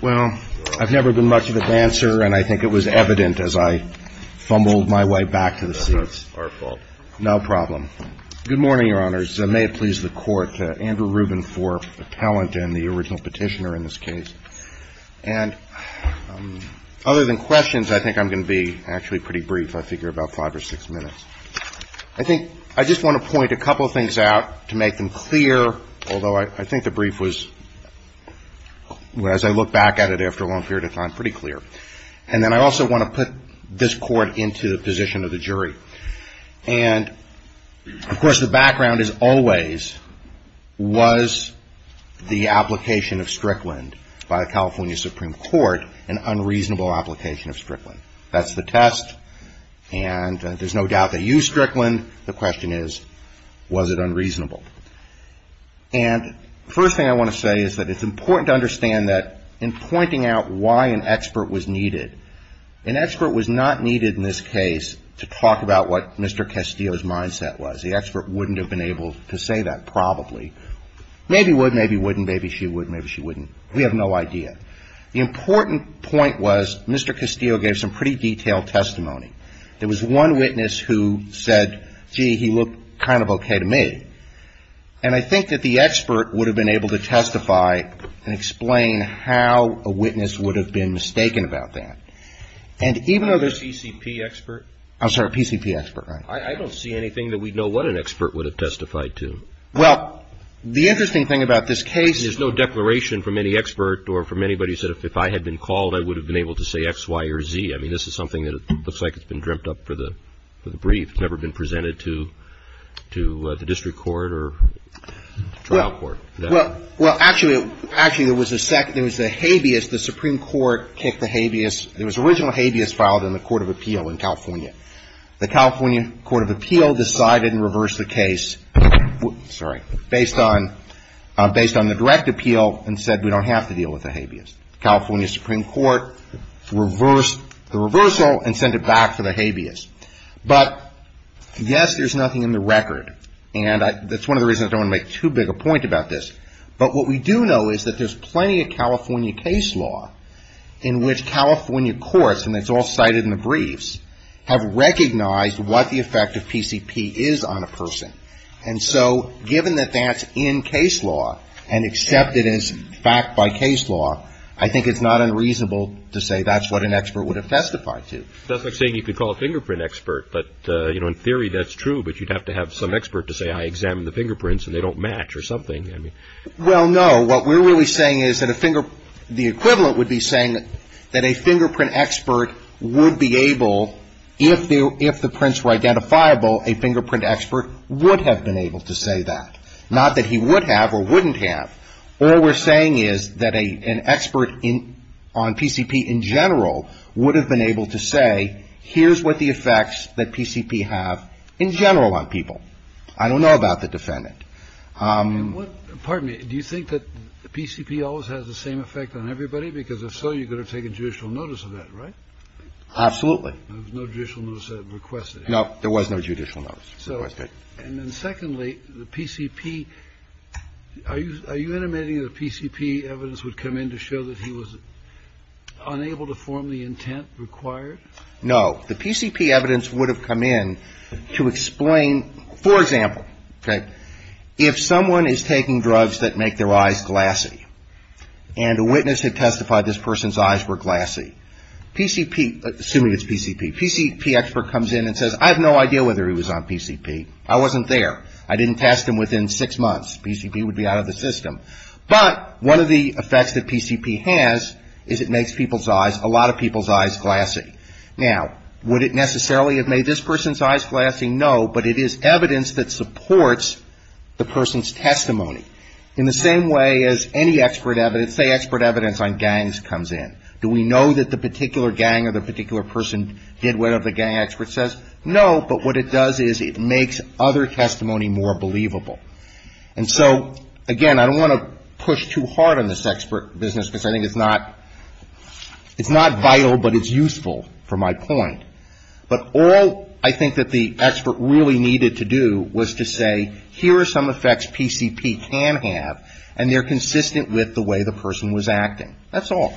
Well, I've never been much of a dancer, and I think it was evident as I fumbled my way back to the seats. That's not our fault. No problem. Good morning, Your Honors. May it please the Court, Andrew Rubin for the talent and the original petitioner in this case. And other than questions, I think I'm going to be actually pretty brief. I figure about five or six minutes. I think I just want to point a couple of things out to make them clear, although I think the brief was, as I look back at it after a long period of time, pretty clear. And then I also want to put this Court into the position of the jury. And, of course, the background is always, was the application of Strickland by the California Supreme Court an unreasonable application of Strickland? That's the test, and there's no doubt they used Strickland. The question is, was it unreasonable? And the first thing I want to say is that it's important to understand that in pointing out why an expert was needed, an expert was not needed in this case to talk about what Mr. Castillo's mindset was. The expert wouldn't have been able to say that probably. Maybe would, maybe wouldn't, maybe she would, maybe she wouldn't. We have no idea. The important point was Mr. Castillo gave some pretty detailed testimony. There was one witness who said, gee, he looked kind of okay to me. And I think that the expert would have been able to testify and explain how a witness would have been mistaken about that. And even though there's no PCP expert. I'm sorry, PCP expert, right. I don't see anything that we'd know what an expert would have testified to. Well, the interesting thing about this case. There's no declaration from any expert or from anybody who said if I had been called, I would have been able to say X, Y, or Z. I mean, this is something that looks like it's been dreamt up for the brief. You've never been presented to the district court or trial court. Well, actually, there was a second. There was a habeas. The Supreme Court kicked the habeas. There was an original habeas filed in the Court of Appeal in California. The California Court of Appeal decided and reversed the case. Sorry. Based on the direct appeal and said we don't have to deal with the habeas. California Supreme Court reversed the reversal and sent it back for the habeas. But, yes, there's nothing in the record. And that's one of the reasons I don't want to make too big a point about this. But what we do know is that there's plenty of California case law in which California courts, and it's all cited in the briefs, have recognized what the effect of PCP is on a person. And so given that that's in case law and accepted as fact by case law, I think it's not unreasonable to say that's what an expert would have testified to. That's like saying you could call a fingerprint expert. But, you know, in theory that's true, but you'd have to have some expert to say I examined the fingerprints and they don't match or something. Well, no. What we're really saying is that the equivalent would be saying that a fingerprint expert would be able, if the prints were identifiable, a fingerprint expert would have been able to say that. Not that he would have or wouldn't have. All we're saying is that an expert on PCP in general would have been able to say, here's what the effects that PCP have in general on people. I don't know about the defendant. Pardon me. Do you think that PCP always has the same effect on everybody? Because if so, you could have taken judicial notice of that, right? Absolutely. There was no judicial notice requested. No, there was no judicial notice requested. And then secondly, the PCP, are you intimating that PCP evidence would come in to show that he was unable to form the intent required? No. The PCP evidence would have come in to explain, for example, if someone is taking drugs that make their eyes glassy and a witness had testified this person's eyes were glassy, PCP, assuming it's PCP, PCP expert comes in and says, I have no idea whether he was on PCP. I wasn't there. I didn't test him within six months. PCP would be out of the system. But one of the effects that PCP has is it makes people's eyes, a lot of people's eyes glassy. Now, would it necessarily have made this person's eyes glassy? No. But it is evidence that supports the person's testimony. In the same way as any expert evidence, say expert evidence on gangs comes in. Do we know that the particular gang or the particular person did whatever the gang expert says? No. But what it does is it makes other testimony more believable. And so, again, I don't want to push too hard on this expert business because I think it's not vital, but it's useful for my point. But all I think that the expert really needed to do was to say, here are some effects PCP can have, and they're consistent with the way the person was acting. That's all.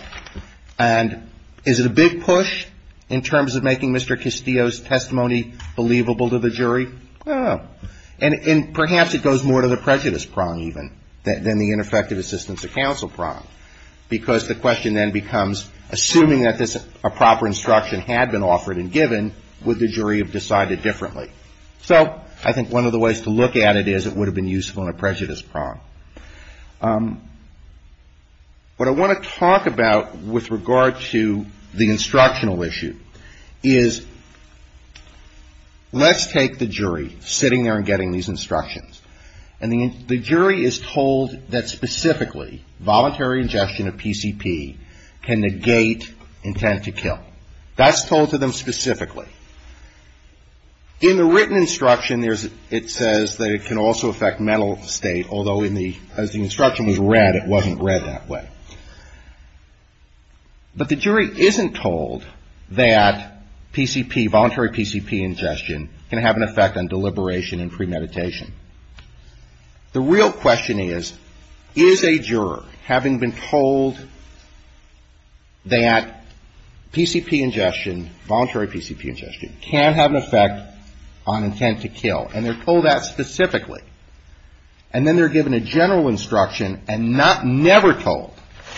And is it a big push in terms of making Mr. Castillo's testimony believable to the jury? No. And perhaps it goes more to the prejudice prong, even, than the ineffective assistance of counsel prong, because the question then becomes, assuming that this proper instruction had been offered and given, would the jury have decided differently? So I think one of the ways to look at it is it would have been useful in a prejudice prong. What I want to talk about with regard to the instructional issue is let's take the jury sitting there and getting these instructions. And the jury is told that specifically voluntary ingestion of PCP can negate intent to kill. That's told to them specifically. In the written instruction, it says that it can also affect mental state, although as the instruction was read, it wasn't read that way. But the jury isn't told that PCP, voluntary PCP ingestion, can have an effect on deliberation and premeditation. The real question is, is a juror, having been told that PCP ingestion, voluntary PCP ingestion, can have an effect on intent to kill? And they're told that specifically. And then they're given a general instruction and never told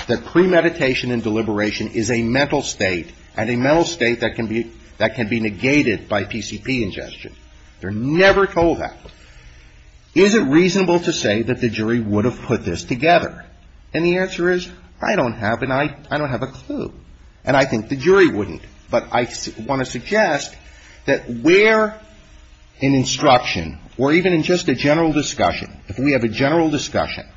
that premeditation and deliberation is a mental state, and a mental state that can be negated by PCP ingestion. They're never told that. Is it reasonable to say that the jury would have put this together? And the answer is, I don't have a clue. And I think the jury wouldn't. But I want to suggest that where an instruction, or even in just a general discussion, if we have a general discussion,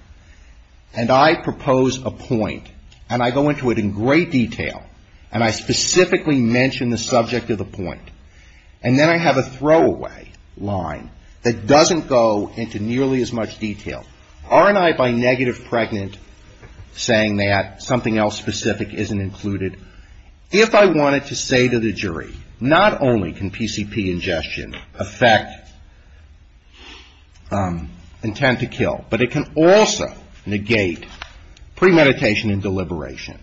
and I propose a point, and I go into it in great detail, and I specifically mention the subject of the point, and then I have a throwaway line that doesn't go into nearly as much detail, aren't I by negative pregnant saying that something else specific isn't included? If I wanted to say to the jury, not only can PCP ingestion affect intent to kill, but it can also negate premeditation and deliberation.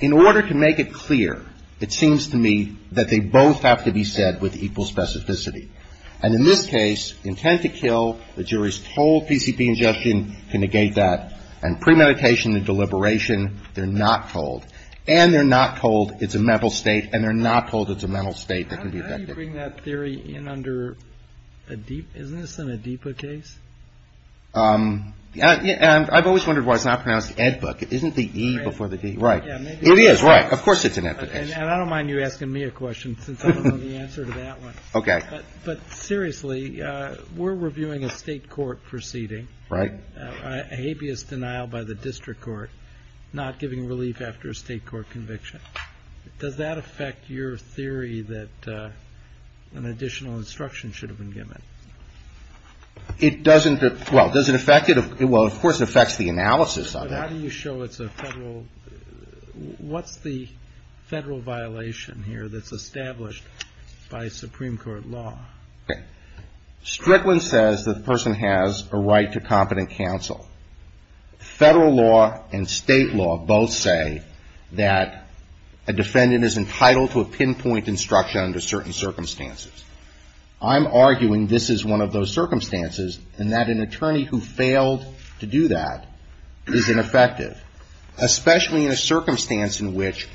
In order to make it clear, it seems to me that they both have to be said with equal specificity. And in this case, intent to kill, the jury's told PCP ingestion can negate that. And premeditation and deliberation, they're not told. And they're not told it's a mental state. And they're not told it's a mental state that can be affected. How do you bring that theory in under a DIPA? Isn't this in a DIPA case? I've always wondered why it's not pronounced ed book. Isn't the E before the D? Right. It is, right. Of course it's an ed book case. And I don't mind you asking me a question, since I don't know the answer to that one. Okay. But seriously, we're reviewing a state court proceeding. Right. A habeas denial by the district court, not giving relief after a state court conviction. Does that affect your theory that an additional instruction should have been given? It doesn't. Well, does it affect it? Well, of course it affects the analysis of it. But how do you show it's a federal? What's the federal violation here that's established by Supreme Court law? Okay. Strickland says the person has a right to competent counsel. Federal law and state law both say that a defendant is entitled to a pinpoint instruction under certain circumstances. I'm arguing this is one of those circumstances, and that an attorney who failed to do that is ineffective, especially in a circumstance in which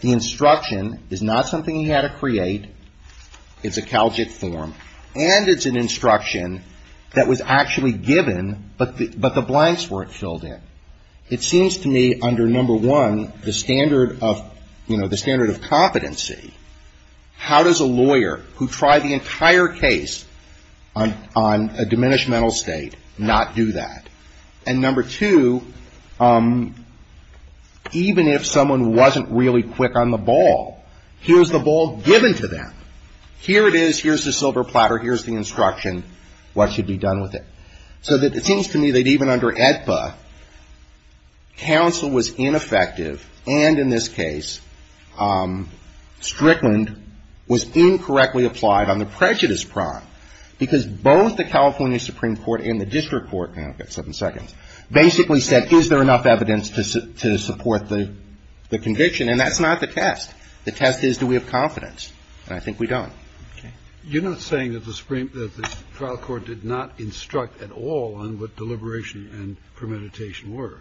the instruction is not something he had to create. It's a Calgit form. And it's an instruction that was actually given, but the blanks weren't filled in. It seems to me, under, number one, the standard of, you know, the standard of competency, how does a lawyer who tried the entire case on a diminished mental state not do that? And, number two, even if someone wasn't really quick on the ball, here's the ball given to them. Here it is. Here's the silver platter. Here's the instruction. What should be done with it? So it seems to me that even under AEDPA, counsel was ineffective, and in this case, Strickland was incorrectly applied on the and that's not the test. The test is do we have confidence, and I think we don't. Okay. You're not saying that the trial court did not instruct at all on what deliberation and premeditation were.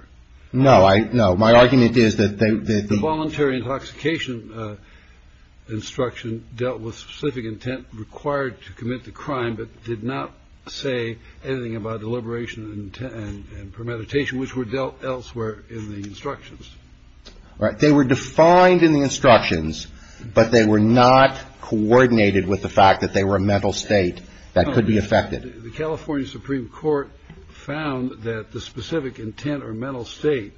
No. No. My argument is that the the voluntary intoxication instruction dealt with specific intent required to commit the crime, but did not say anything about deliberation and premeditation, which were dealt elsewhere in the instructions. All right. They were defined in the instructions, but they were not coordinated with the fact that they were a mental state that could be affected. The California Supreme Court found that the specific intent or mental state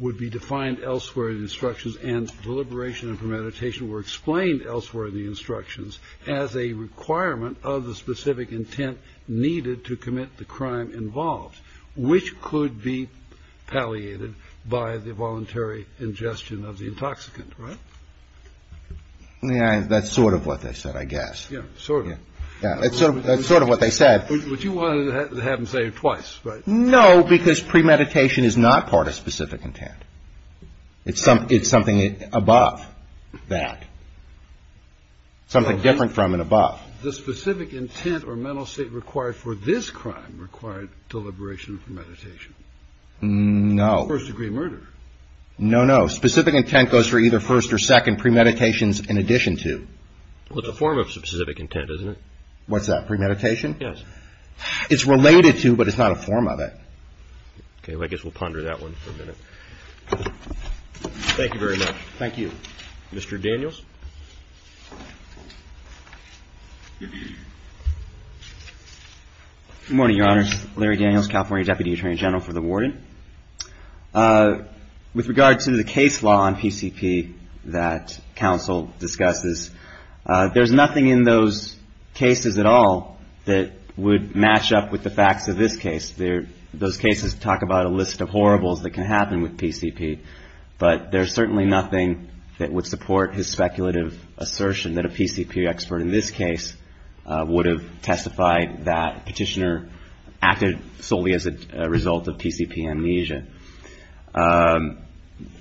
would be defined elsewhere in the instructions, and deliberation and premeditation were explained elsewhere in the instructions as a requirement of the specific intent needed to commit the crime involved, which could be palliated by the voluntary ingestion of the intoxicant, right? That's sort of what they said, I guess. Yeah, sort of. Yeah. That's sort of what they said. Would you want to have them say it twice? No, because premeditation is not part of specific intent. It's something above that, something different from and above. The specific intent or mental state required for this crime required deliberation and premeditation. No. First degree murder. No, no. Specific intent goes for either first or second premeditations in addition to. Well, it's a form of specific intent, isn't it? What's that? Premeditation? Yes. It's related to, but it's not a form of it. Okay, I guess we'll ponder that one for a minute. Thank you very much. Thank you. Mr. Daniels? Good morning, Your Honors. Larry Daniels, California Deputy Attorney General for the Warden. With regard to the case law on PCP that counsel discusses, there's nothing in those cases at all that would match up with the facts of this case. Those cases talk about a list of horribles that can happen with PCP, but there's certainly nothing that would support his speculative assertion that a PCP expert in this case would have testified that Petitioner acted solely as a result of PCP amnesia.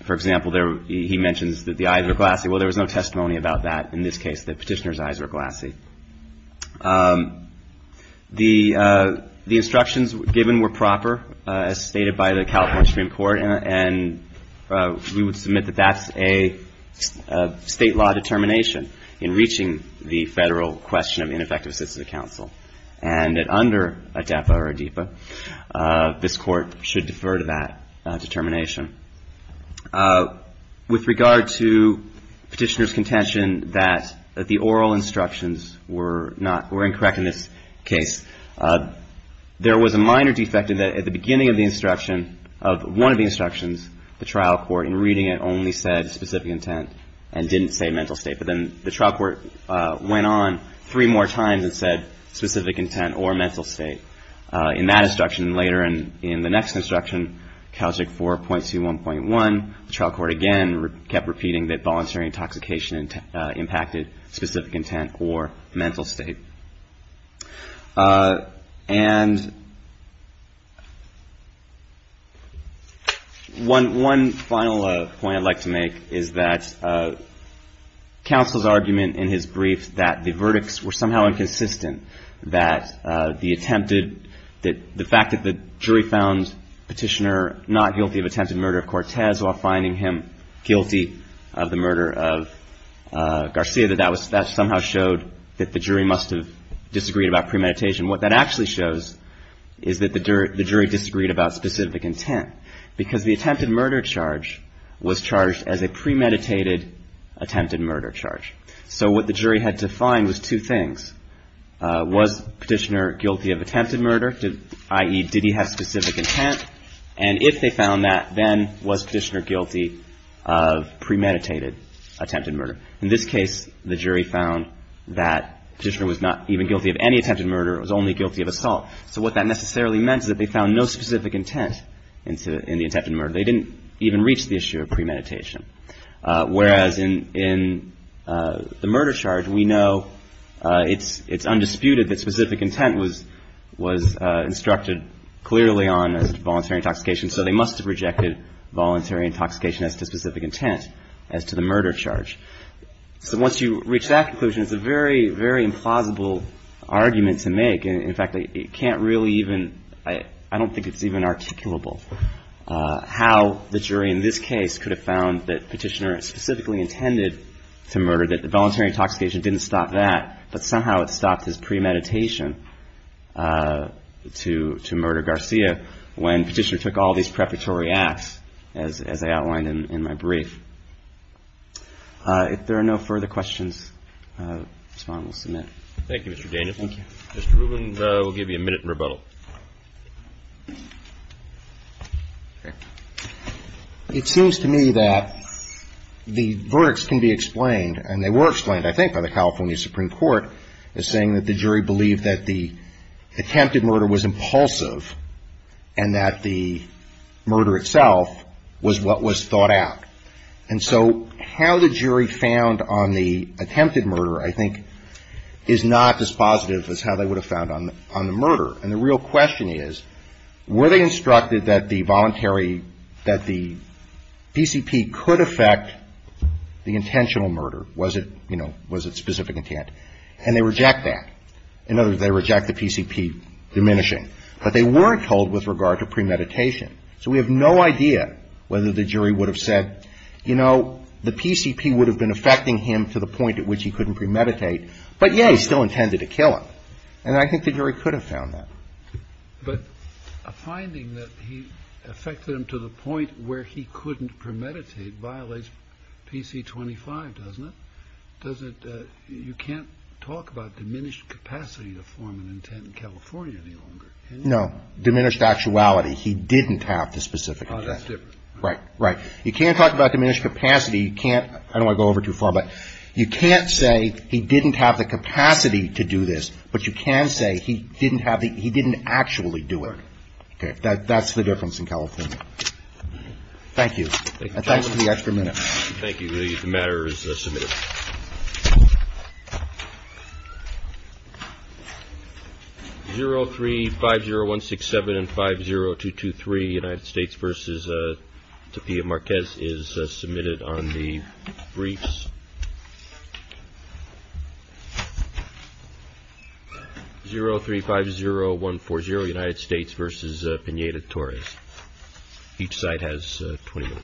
For example, he mentions that the eyes were glassy. Well, there was no testimony about that in this case, that Petitioner's eyes were glassy. The instructions given were proper, as stated by the California Supreme Court, and we would submit that that's a state law determination in reaching the federal question of ineffective assistance to counsel, and that under ADEPA or ADEPA, this court should defer to that determination. With regard to Petitioner's contention that the oral instructions were incorrect in this case, there was a minor defect in that at the beginning of the instruction, of one of the instructions, the trial court in reading it only said specific intent and didn't say mental state. But then the trial court went on three more times and said specific intent or mental state. In that instruction and later in the next instruction, CALJIC 4.21.1, the trial court again kept repeating that voluntary intoxication impacted specific intent or mental state. One final point I'd like to make is that counsel's argument in his brief that the verdicts were somehow inconsistent, that the fact that the jury found Petitioner not guilty of attempted murder of Cortez while finding him guilty of the murder of Garcia, that that somehow showed that the jury must have disagreed about premeditation. What that actually shows is that the jury disagreed about specific intent, because the attempted murder charge was charged as a premeditated attempted murder charge. So what the jury had to find was two things. Was Petitioner guilty of attempted murder, i.e., did he have specific intent? And if they found that, then was Petitioner guilty of premeditated attempted murder? In this case, the jury found that Petitioner was not even guilty of any attempted murder, it was only guilty of assault. So what that necessarily meant is that they found no specific intent in the attempted murder. They didn't even reach the issue of premeditation. Whereas in the murder charge, we know it's undisputed that specific intent was instructed clearly on as to voluntary intoxication, so they must have rejected voluntary intoxication as to specific intent as to the murder charge. So once you reach that conclusion, it's a very, very implausible argument to make. In fact, it can't really even, I don't think it's even articulable, how the jury in this case could have found that Petitioner specifically intended to murder, that the voluntary intoxication didn't stop that, but somehow it stopped his premeditation to murder Garcia, when Petitioner took all these preparatory acts, as I outlined in my brief. If there are no further questions, the respondent will submit. Thank you, Mr. Danielson. Mr. Rubin will give you a minute in rebuttal. It seems to me that the verdicts can be explained, and they were explained, I think, by the California Supreme Court as saying that the jury believed that the attempted murder was impulsive and that the murder itself was what was thought out. And so how the jury found on the attempted murder, I think, is not as positive as how they would have found on the murder. And the real question is, were they instructed that the voluntary, that the PCP could affect the intentional murder? Was it, you know, was it specific intent? And they reject that. In other words, they reject the PCP diminishing. But they weren't told with regard to premeditation. So we have no idea whether the jury would have said, you know, the PCP would have been affecting him to the point at which he couldn't premeditate. But, yeah, he still intended to kill him. And I think the jury could have found that. But a finding that he affected him to the point where he couldn't premeditate violates PC-25, doesn't it? Does it, you can't talk about diminished capacity to form an intent in California any longer. No. Diminished actuality. He didn't have the specific intent. Right, right. You can't talk about diminished capacity. You can't, I don't want to go over it too far, but you can't say he didn't have the capacity to do this. But you can say he didn't have the, he didn't actually do it. Okay. That's the difference in California. Thank you. And thanks for the extra minute. Thank you. The matter is submitted. 0350-167 and 50223, United States versus Tapia Marquez is submitted on the briefs. 0350-140, United States versus Pineda-Torres. Each side has 20 minutes.